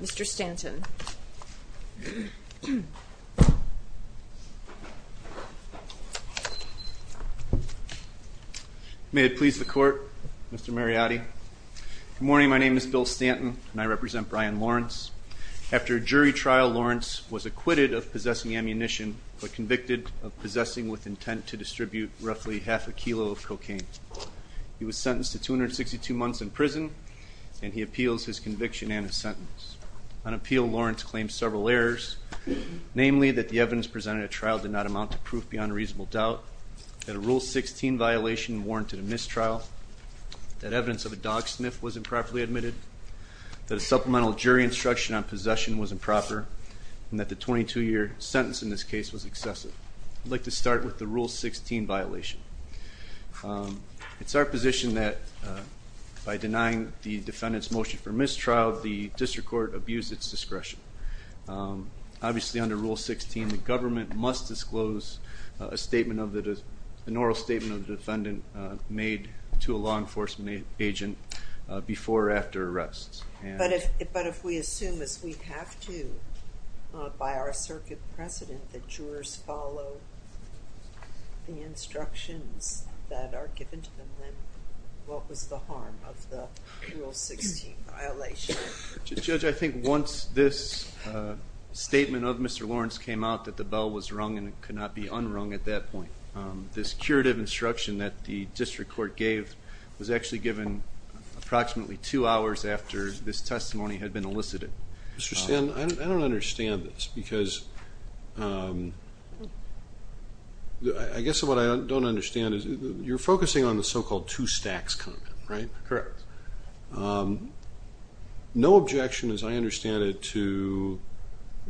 Mr. Stanton. May it please the court Mr. Mariotti. Good morning my name is Bill Stanton and I represent Brian Lawrence. After a jury trial Lawrence was acquitted of possessing ammunition but convicted of possessing with intent to distribute roughly half a kilo of cocaine. He was sentenced to 262 years in prison. On appeal Lawrence claimed several errors, namely that the evidence presented at trial did not amount to proof beyond a reasonable doubt, that a rule 16 violation warranted a mistrial, that evidence of a dog sniff was improperly admitted, that a supplemental jury instruction on possession was improper, and that the 22 year sentence in this case was excessive. I'd like to start with the rule 16 violation. It's our position that by denying the defendant's motion for mistrial the district court abused its discretion. Obviously under rule 16 the government must disclose a statement of the, an oral statement of the defendant made to a law enforcement agent before or after arrests. But if we assume as we have to by our circuit precedent that jurors follow the instructions that are given to them then what was the harm of the rule 16 violation? Judge, I think once this statement of Mr. Lawrence came out that the bell was rung and it could not be unrung at that point, this curative instruction that the district court gave was actually given approximately two hours after this testimony had been elicited. Mr. Stanton, I don't understand this because I guess what I don't understand is you're focusing on the so-called two stacks comment, right? Correct. No objection as I understand it to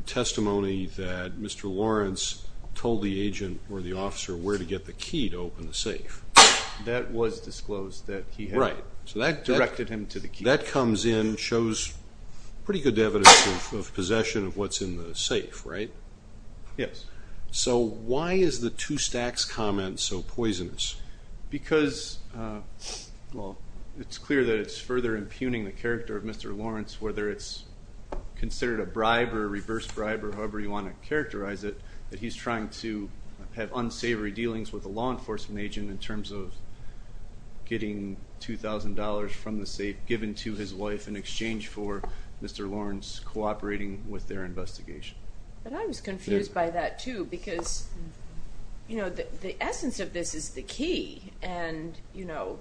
testimony that Mr. Lawrence told the agent or the officer where to get the key to open the safe. That was disclosed that he had directed him to the key. That comes in, shows pretty good evidence of possession of what's in the safe, right? Yes. So why is the two stacks comment so poisonous? Because, well, it's clear that it's further impugning the character of Mr. Lawrence whether it's considered a bribe or a reverse bribe or however you want to characterize it, that he's trying to have unsavory dealings with a law enforcement agent in terms of getting $2,000 from the safe given to his wife in exchange for Mr. Lawrence cooperating with their investigation. But I was confused by that too because, you know, the essence of this is the key and, you know,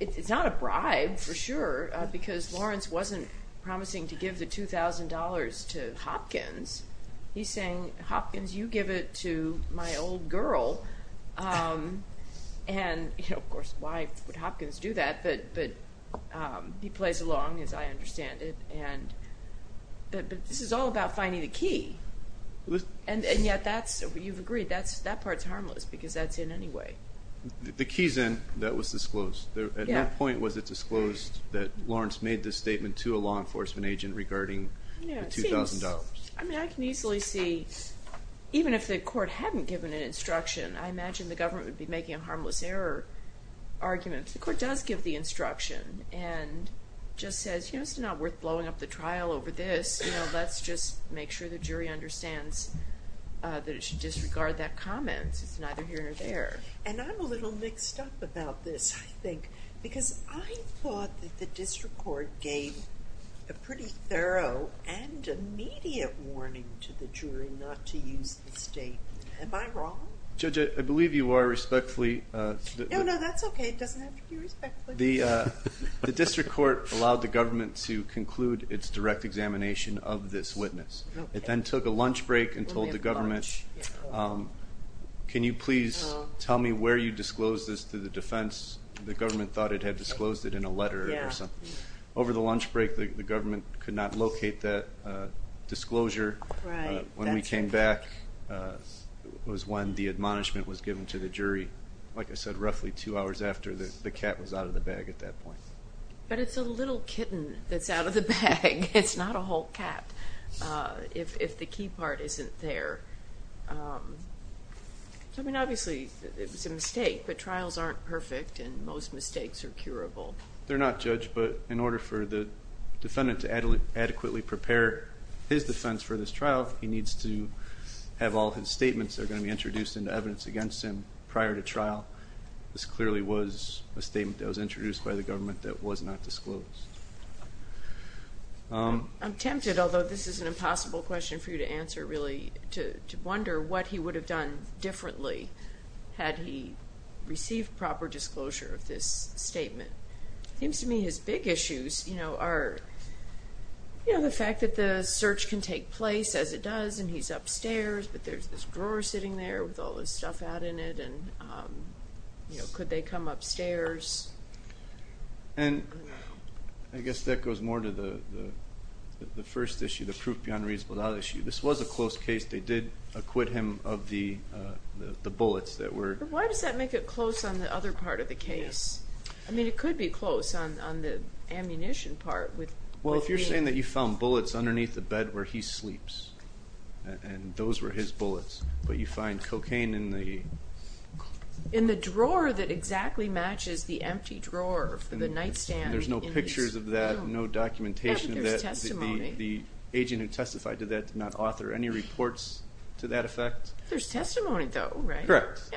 it's not a bribe for sure because Lawrence wasn't promising to give the $2,000 to Hopkins. He's saying, Hopkins, you give it to my old girl and, you know, of course, why would Hopkins do that? But he plays along as I understand it and this is all about finding the key and yet that's, you've agreed, that part's harmless because that's in anyway. The key's in that was disclosed. At what point was it disclosed that Lawrence made this statement to a law enforcement agent regarding the $2,000? I mean, I can easily see even if the court hadn't given an instruction, I imagine the government would be making a harmless error argument. The court does give the instruction and just says, you know, it's not worth blowing up the trial over this. You know, let's just make sure the jury understands that it should disregard that comment. It's neither here nor there. And I'm a little mixed up about this, I think, because I thought that the district court gave a pretty thorough and immediate warning to the jury not to use the statement. Am I wrong? Judge, I believe you are respectfully. No, no, that's okay. It doesn't have to be respectfully. The district court allowed the government to conclude its direct examination of this witness. It then took a lunch break and told the government, can you please tell me where you disclosed this to the defense? The government thought it had disclosed it in a letter or something. Over the lunch break, the government could not locate that disclosure. When we came back was when the admonishment was given to the jury. Like I said, roughly two hours after the cat was out of the bag at that point. But it's a little kitten that's out of the bag. It's not a whole cat if the key part isn't there. I mean, obviously it was a mistake, but trials aren't perfect and most mistakes are curable. They're not, Judge, but in order for the defendant to adequately prepare his defense for this trial, he needs to have all his statements that are going to be introduced into evidence against him prior to trial. This clearly was a statement that was introduced by the government that was not disclosed. I'm tempted, although this is an impossible question for you to answer really, to wonder what he would have done differently had he received proper disclosure of this statement. It seems to me his big issues are the fact that the search can take place as it does and he's upstairs, but there's this drawer sitting there with all this stuff out in it. Could they come upstairs? I guess that goes more to the first issue, the proof beyond reasonable doubt issue. This was a close case. They did acquit him of the bullets that were— Why does that make it close on the other part of the case? I mean, it could be close on the ammunition part. Well, if you're saying that you found bullets underneath the bed where he sleeps and those were his bullets, but you find cocaine in the— In the drawer that exactly matches the empty drawer for the nightstand. There's no pictures of that, no documentation of that. Yeah, but there's testimony. The agent who testified to that did not author any reports to that effect. There's testimony, though, right? Correct.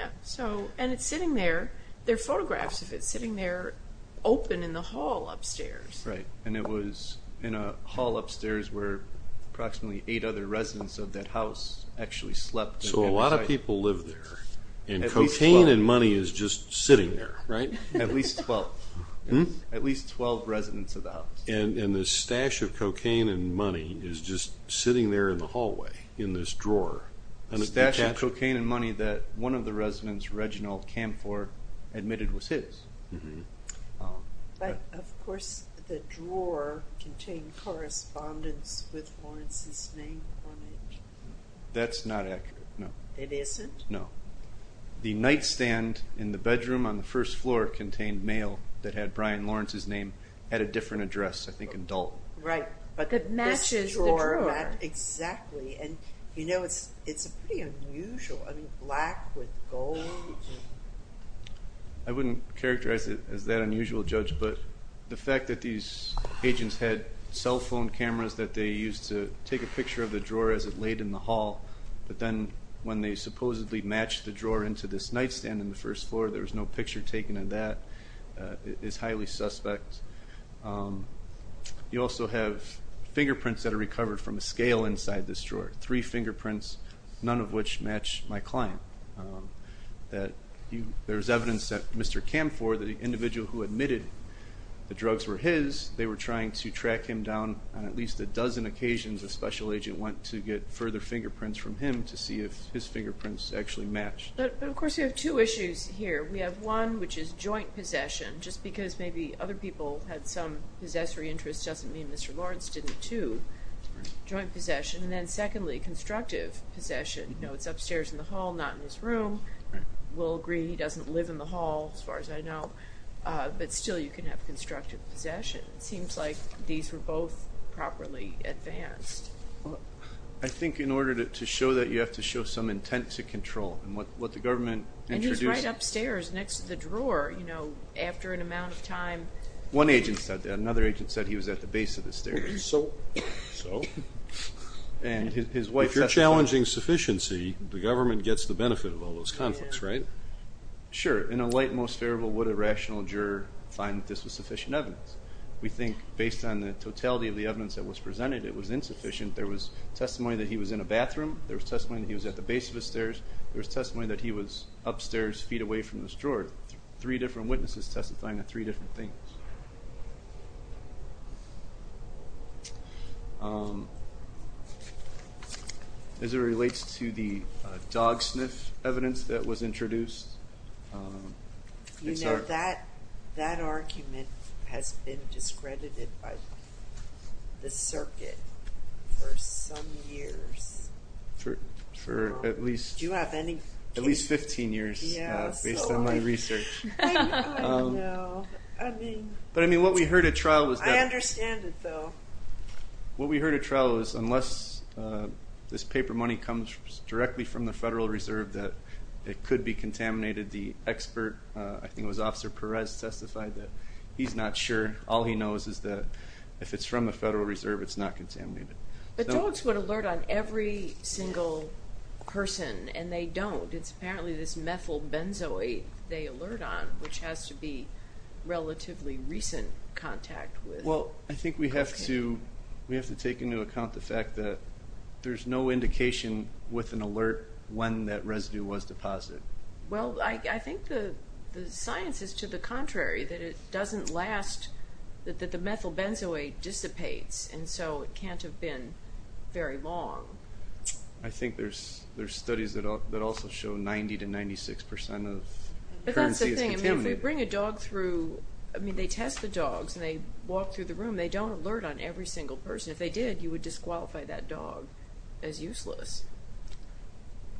And it's sitting there. There are photographs of it sitting there open in the hall upstairs. Right, and it was in a hall upstairs where approximately eight other residents of that house actually slept. So a lot of people live there, and cocaine and money is just sitting there, right? At least 12. At least 12 residents of the house. And this stash of cocaine and money is just sitting there in the hallway in this drawer. A stash of cocaine and money that one of the residents, Reginald Kanfor, admitted was his. But, of course, the drawer contained correspondence with Lawrence's name on it. That's not accurate, no. It isn't? No. The nightstand in the bedroom on the first floor contained mail that had Brian Lawrence's name at a different address, I think in Dalton. Right, but this drawer— That matches the drawer. Exactly, and you know, it's pretty unusual. I mean, black with gold. I wouldn't characterize it as that unusual, Judge, but the fact that these agents had cell phone cameras that they used to take a picture of the drawer as it laid in the hall, but then when they supposedly matched the drawer into this nightstand in the first floor, there was no picture taken of that, is highly suspect. You also have fingerprints that are recovered from a scale inside this drawer, three fingerprints, none of which match my client. There's evidence that Mr. Kanfor, the individual who admitted the drugs were his, they were trying to track him down on at least a dozen occasions a special agent went to get further fingerprints from him to see if his fingerprints actually matched. But, of course, you have two issues here. We have one, which is joint possession. Just because maybe other people had some possessory interest doesn't mean Mr. Lawrence didn't, too. Joint possession. And then, secondly, constructive possession. You know, it's upstairs in the hall, not in his room. We'll agree he doesn't live in the hall, as far as I know, but still you can have constructive possession. It seems like these were both properly advanced. I think in order to show that, you have to show some intent to control. And what the government introduced. And he's right upstairs next to the drawer, you know, after an amount of time. One agent said that. Another agent said he was at the base of the stairs. So? And his wife testified. If you're challenging sufficiency, the government gets the benefit of all those conflicts, right? Sure. In a light, most favorable, would a rational juror find that this was sufficient evidence? We think, based on the totality of the evidence that was presented, it was insufficient. There was testimony that he was in a bathroom. There was testimony that he was at the base of the stairs. There was testimony that he was upstairs, feet away from this drawer. Three different witnesses testifying to three different things. As it relates to the dog sniff evidence that was introduced. You know, that argument has been discredited by the circuit for some years. For at least 15 years. Based on my research. I don't know. But, I mean, what we heard at trial was that. I understand it, though. What we heard at trial was unless this paper money comes directly from the Federal Reserve, that it could be contaminated. The expert, I think it was Officer Perez, testified that he's not sure. All he knows is that if it's from the Federal Reserve, it's not contaminated. But dogs would alert on every single person, and they don't. It's apparently this methyl benzoate they alert on, which has to be relatively recent contact. Well, I think we have to take into account the fact that there's no indication with an alert when that residue was deposited. Well, I think the science is to the contrary, that it doesn't last, that the methyl benzoate dissipates, and so it can't have been very long. I think there's studies that also show 90% to 96% of currency is contaminated. But that's the thing. If we bring a dog through, I mean, they test the dogs, and they walk through the room. They don't alert on every single person. If they did, you would disqualify that dog as useless.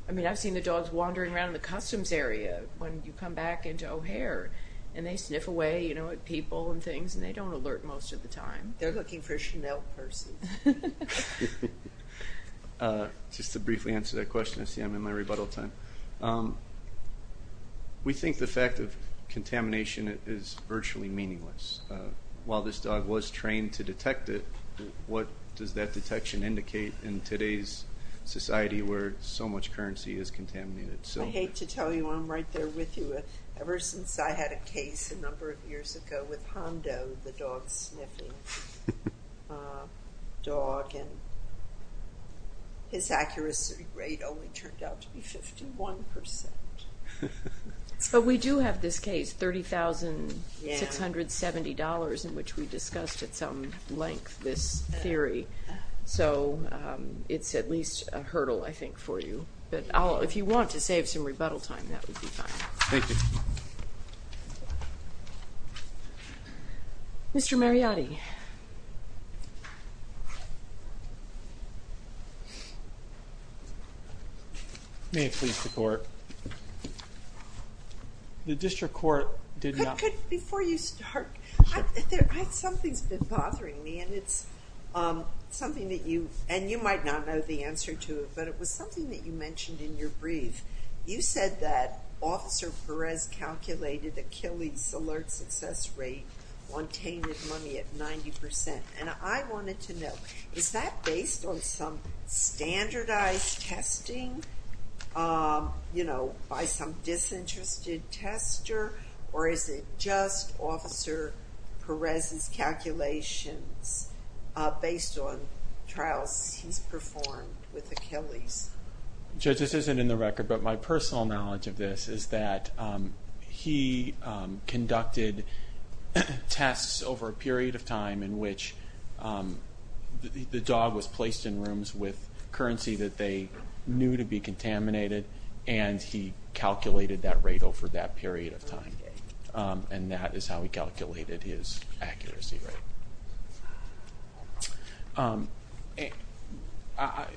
I mean, I've seen the dogs wandering around the customs area when you come back into O'Hare, and they sniff away at people and things, and they don't alert most of the time. They're looking for Chanel purses. Just to briefly answer that question, I see I'm in my rebuttal time. We think the fact of contamination is virtually meaningless. While this dog was trained to detect it, what does that detection indicate in today's society where so much currency is contaminated? I hate to tell you, I'm right there with you. Ever since I had a case a number of years ago with Hondo, the dog sniffing. Dog, and his accuracy rate only turned out to be 51%. But we do have this case, $30,670, in which we discussed at some length this theory. So it's at least a hurdle, I think, for you. But if you want to save some rebuttal time, that would be fine. Thank you. Thank you. Mr. Mariotti. May it please the Court. The District Court did not— Before you start, something's been bothering me, and it's something that you— and you might not know the answer to it, but it was something that you mentioned in your brief. You said that Officer Perez calculated Achilles' alert success rate on tainted money at 90%. And I wanted to know, is that based on some standardized testing by some disinterested tester, or is it just Officer Perez's calculations based on trials he's performed with Achilles? Judge, this isn't in the record, but my personal knowledge of this is that he conducted tests over a period of time in which the dog was placed in rooms with currency that they knew to be contaminated, and he calculated that rate over that period of time. And that is how he calculated his accuracy rate.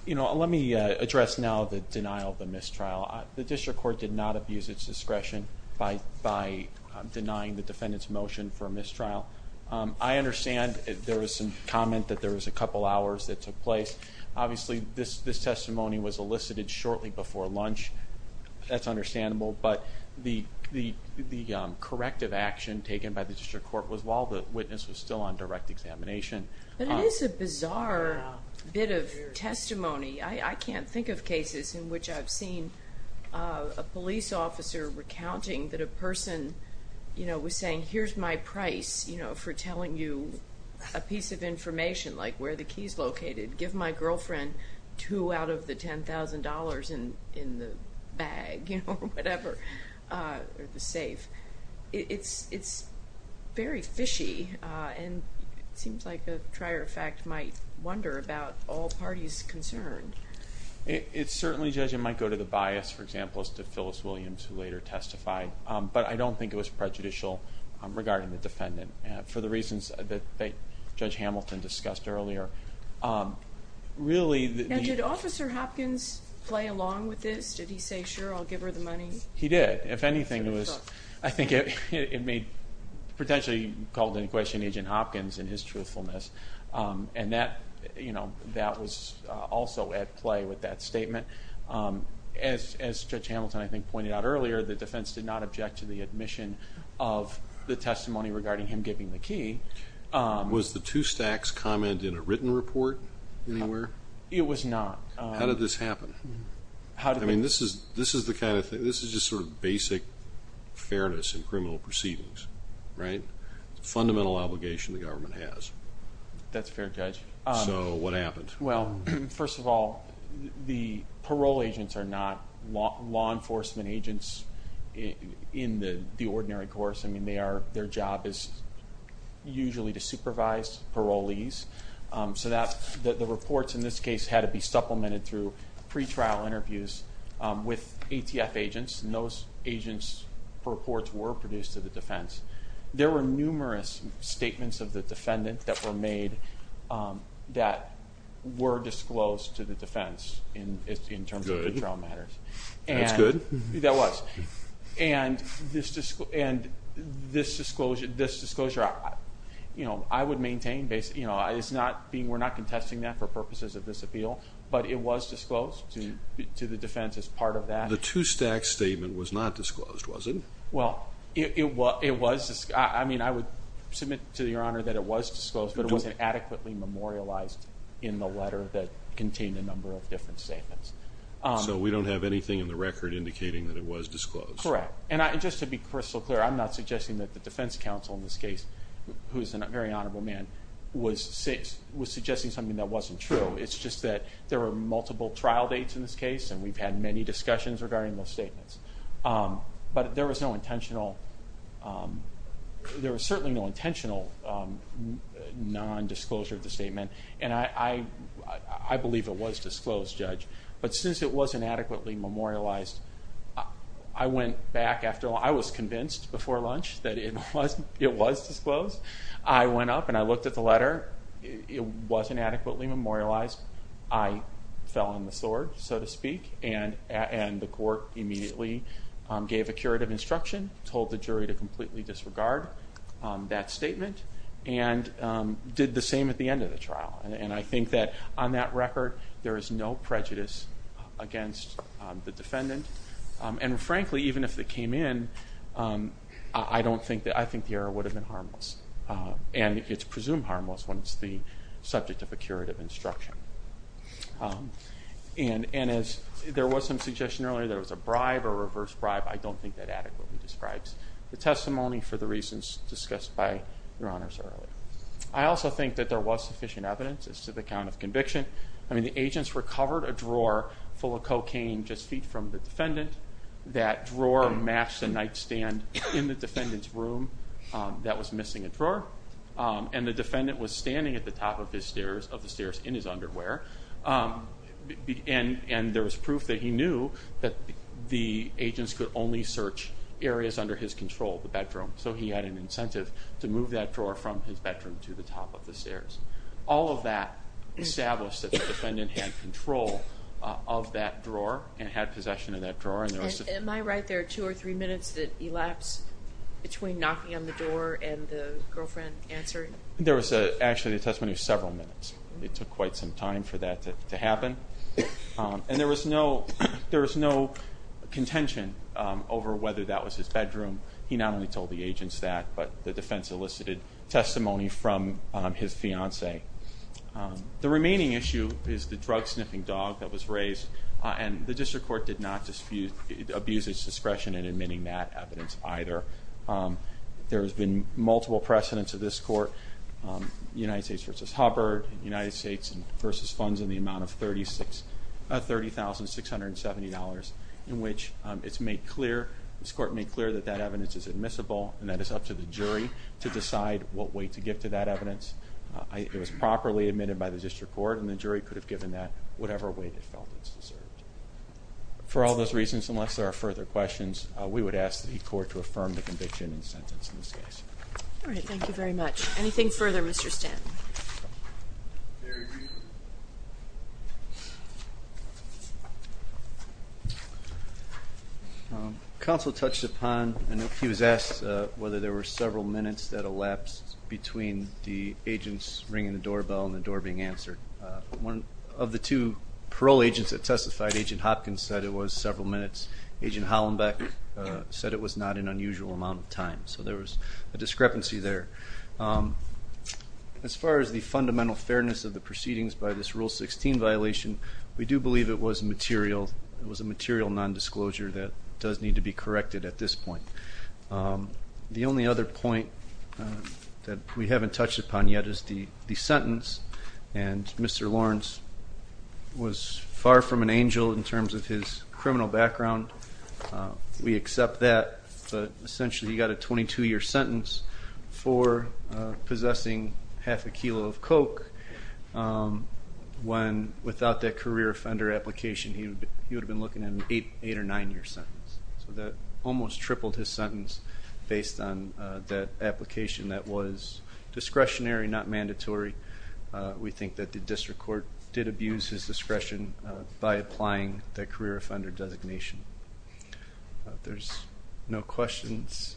You know, let me address now the denial of the mistrial. The District Court did not abuse its discretion by denying the defendant's motion for mistrial. I understand there was some comment that there was a couple hours that took place. Obviously, this testimony was elicited shortly before lunch. That's understandable, but the corrective action taken by the District Court was while the witness was still on direct examination. But it is a bizarre bit of testimony. I can't think of cases in which I've seen a police officer recounting that a person was saying, here's my price for telling you a piece of information, like where the key's located. Give my girlfriend two out of the $10,000 in the bag or whatever, or the safe. It's very fishy, and it seems like a trier of fact might wonder about all parties concerned. It certainly, Judge, it might go to the bias, for example, as to Phyllis Williams, who later testified. But I don't think it was prejudicial regarding the defendant, for the reasons that Judge Hamilton discussed earlier. Now, did Officer Hopkins play along with this? Did he say, sure, I'll give her the money? He did. If anything, I think it potentially called into question Agent Hopkins and his truthfulness. And that was also at play with that statement. As Judge Hamilton, I think, pointed out earlier, the defense did not object to the admission of the testimony regarding him giving the key. Was the two stacks commented in a written report anywhere? It was not. How did this happen? I mean, this is the kind of thing, this is just sort of basic fairness in criminal proceedings, right? It's a fundamental obligation the government has. That's fair, Judge. So what happened? Well, first of all, the parole agents are not law enforcement agents in the ordinary course. I mean, their job is usually to supervise parolees. So the reports in this case had to be supplemented through pre-trial interviews with ATF agents, and those agents' reports were produced to the defense. There were numerous statements of the defendant that were made that were disclosed to the defense in terms of pre-trial matters. That's good. That was. And this disclosure, you know, I would maintain, you know, we're not contesting that for purposes of this appeal, but it was disclosed to the defense as part of that. The two stack statement was not disclosed, was it? Well, it was. I mean, I would submit to Your Honor that it was disclosed, but it wasn't adequately memorialized in the letter that contained a number of different statements. So we don't have anything in the record indicating that it was disclosed? Correct. And just to be crystal clear, I'm not suggesting that the defense counsel in this case, who is a very honorable man, was suggesting something that wasn't true. It's just that there were multiple trial dates in this case, and we've had many discussions regarding those statements. And I believe it was disclosed, Judge. But since it wasn't adequately memorialized, I went back after lunch. I was convinced before lunch that it was disclosed. I went up and I looked at the letter. It wasn't adequately memorialized. I fell on the sword, so to speak, and the court immediately gave a curative instruction, told the jury to completely disregard that statement, and did the same at the end of the trial. And I think that on that record, there is no prejudice against the defendant. And frankly, even if it came in, I think the error would have been harmless. And it's presumed harmless when it's the subject of a curative instruction. And as there was some suggestion earlier that it was a bribe or a reverse bribe, I don't think that adequately describes the testimony for the reasons discussed by Your Honors earlier. I also think that there was sufficient evidence as to the count of conviction. I mean, the agents recovered a drawer full of cocaine just feet from the defendant. That drawer matched the nightstand in the defendant's room that was missing a drawer. And the defendant was standing at the top of the stairs in his underwear. And there was proof that he knew that the agents could only search areas under his control, the bedroom. So he had an incentive to move that drawer from his bedroom to the top of the stairs. All of that established that the defendant had control of that drawer and had possession of that drawer. Am I right that there were two or three minutes that elapsed between knocking on the door and the girlfriend answering? There was actually a testimony of several minutes. It took quite some time for that to happen. And there was no contention over whether that was his bedroom. He not only told the agents that, but the defense elicited testimony from his fiancée. The remaining issue is the drug-sniffing dog that was raised. And the district court did not abuse its discretion in admitting that evidence either. There has been multiple precedents of this court, United States v. Hubbard, United States v. Funds in the amount of $30,670, in which it's made clear, this court made clear that that evidence is admissible and that it's up to the jury to decide what way to give to that evidence. It was properly admitted by the district court, and the jury could have given that whatever way they felt it's deserved. For all those reasons, unless there are further questions, we would ask the court to affirm the conviction and sentence in this case. All right, thank you very much. Anything further, Mr. Stanton? Very briefly. Counsel touched upon and he was asked whether there were several minutes that elapsed between the agents ringing the doorbell and the door being answered. One of the two parole agents that testified, Agent Hopkins, said it was several minutes. Agent Hollenbeck said it was not an unusual amount of time. So there was a discrepancy there. As far as the fundamental fairness of the proceedings by this Rule 16 violation, we do believe it was a material nondisclosure that does need to be corrected at this point. The only other point that we haven't touched upon yet is the sentence, and Mr. Lawrence was far from an angel in terms of his criminal background. We accept that, but essentially he got a 22-year sentence for possessing half a kilo of coke when without that career offender application he would have been looking at an 8 or 9-year sentence. So that almost tripled his sentence based on that application that was discretionary, not mandatory. We think that the district court did abuse his discretion by applying the career offender designation. There's no questions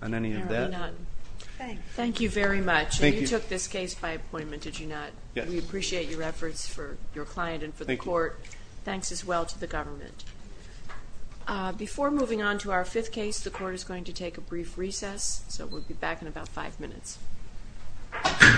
on any of that? There are none. Thank you. Thank you very much. Thank you. And you took this case by appointment, did you not? Yes. We appreciate your efforts for your client and for the court. Thank you. Thanks as well to the government. Before moving on to our fifth case, the court is going to take a brief recess, so we'll be back in about five minutes. Thank you.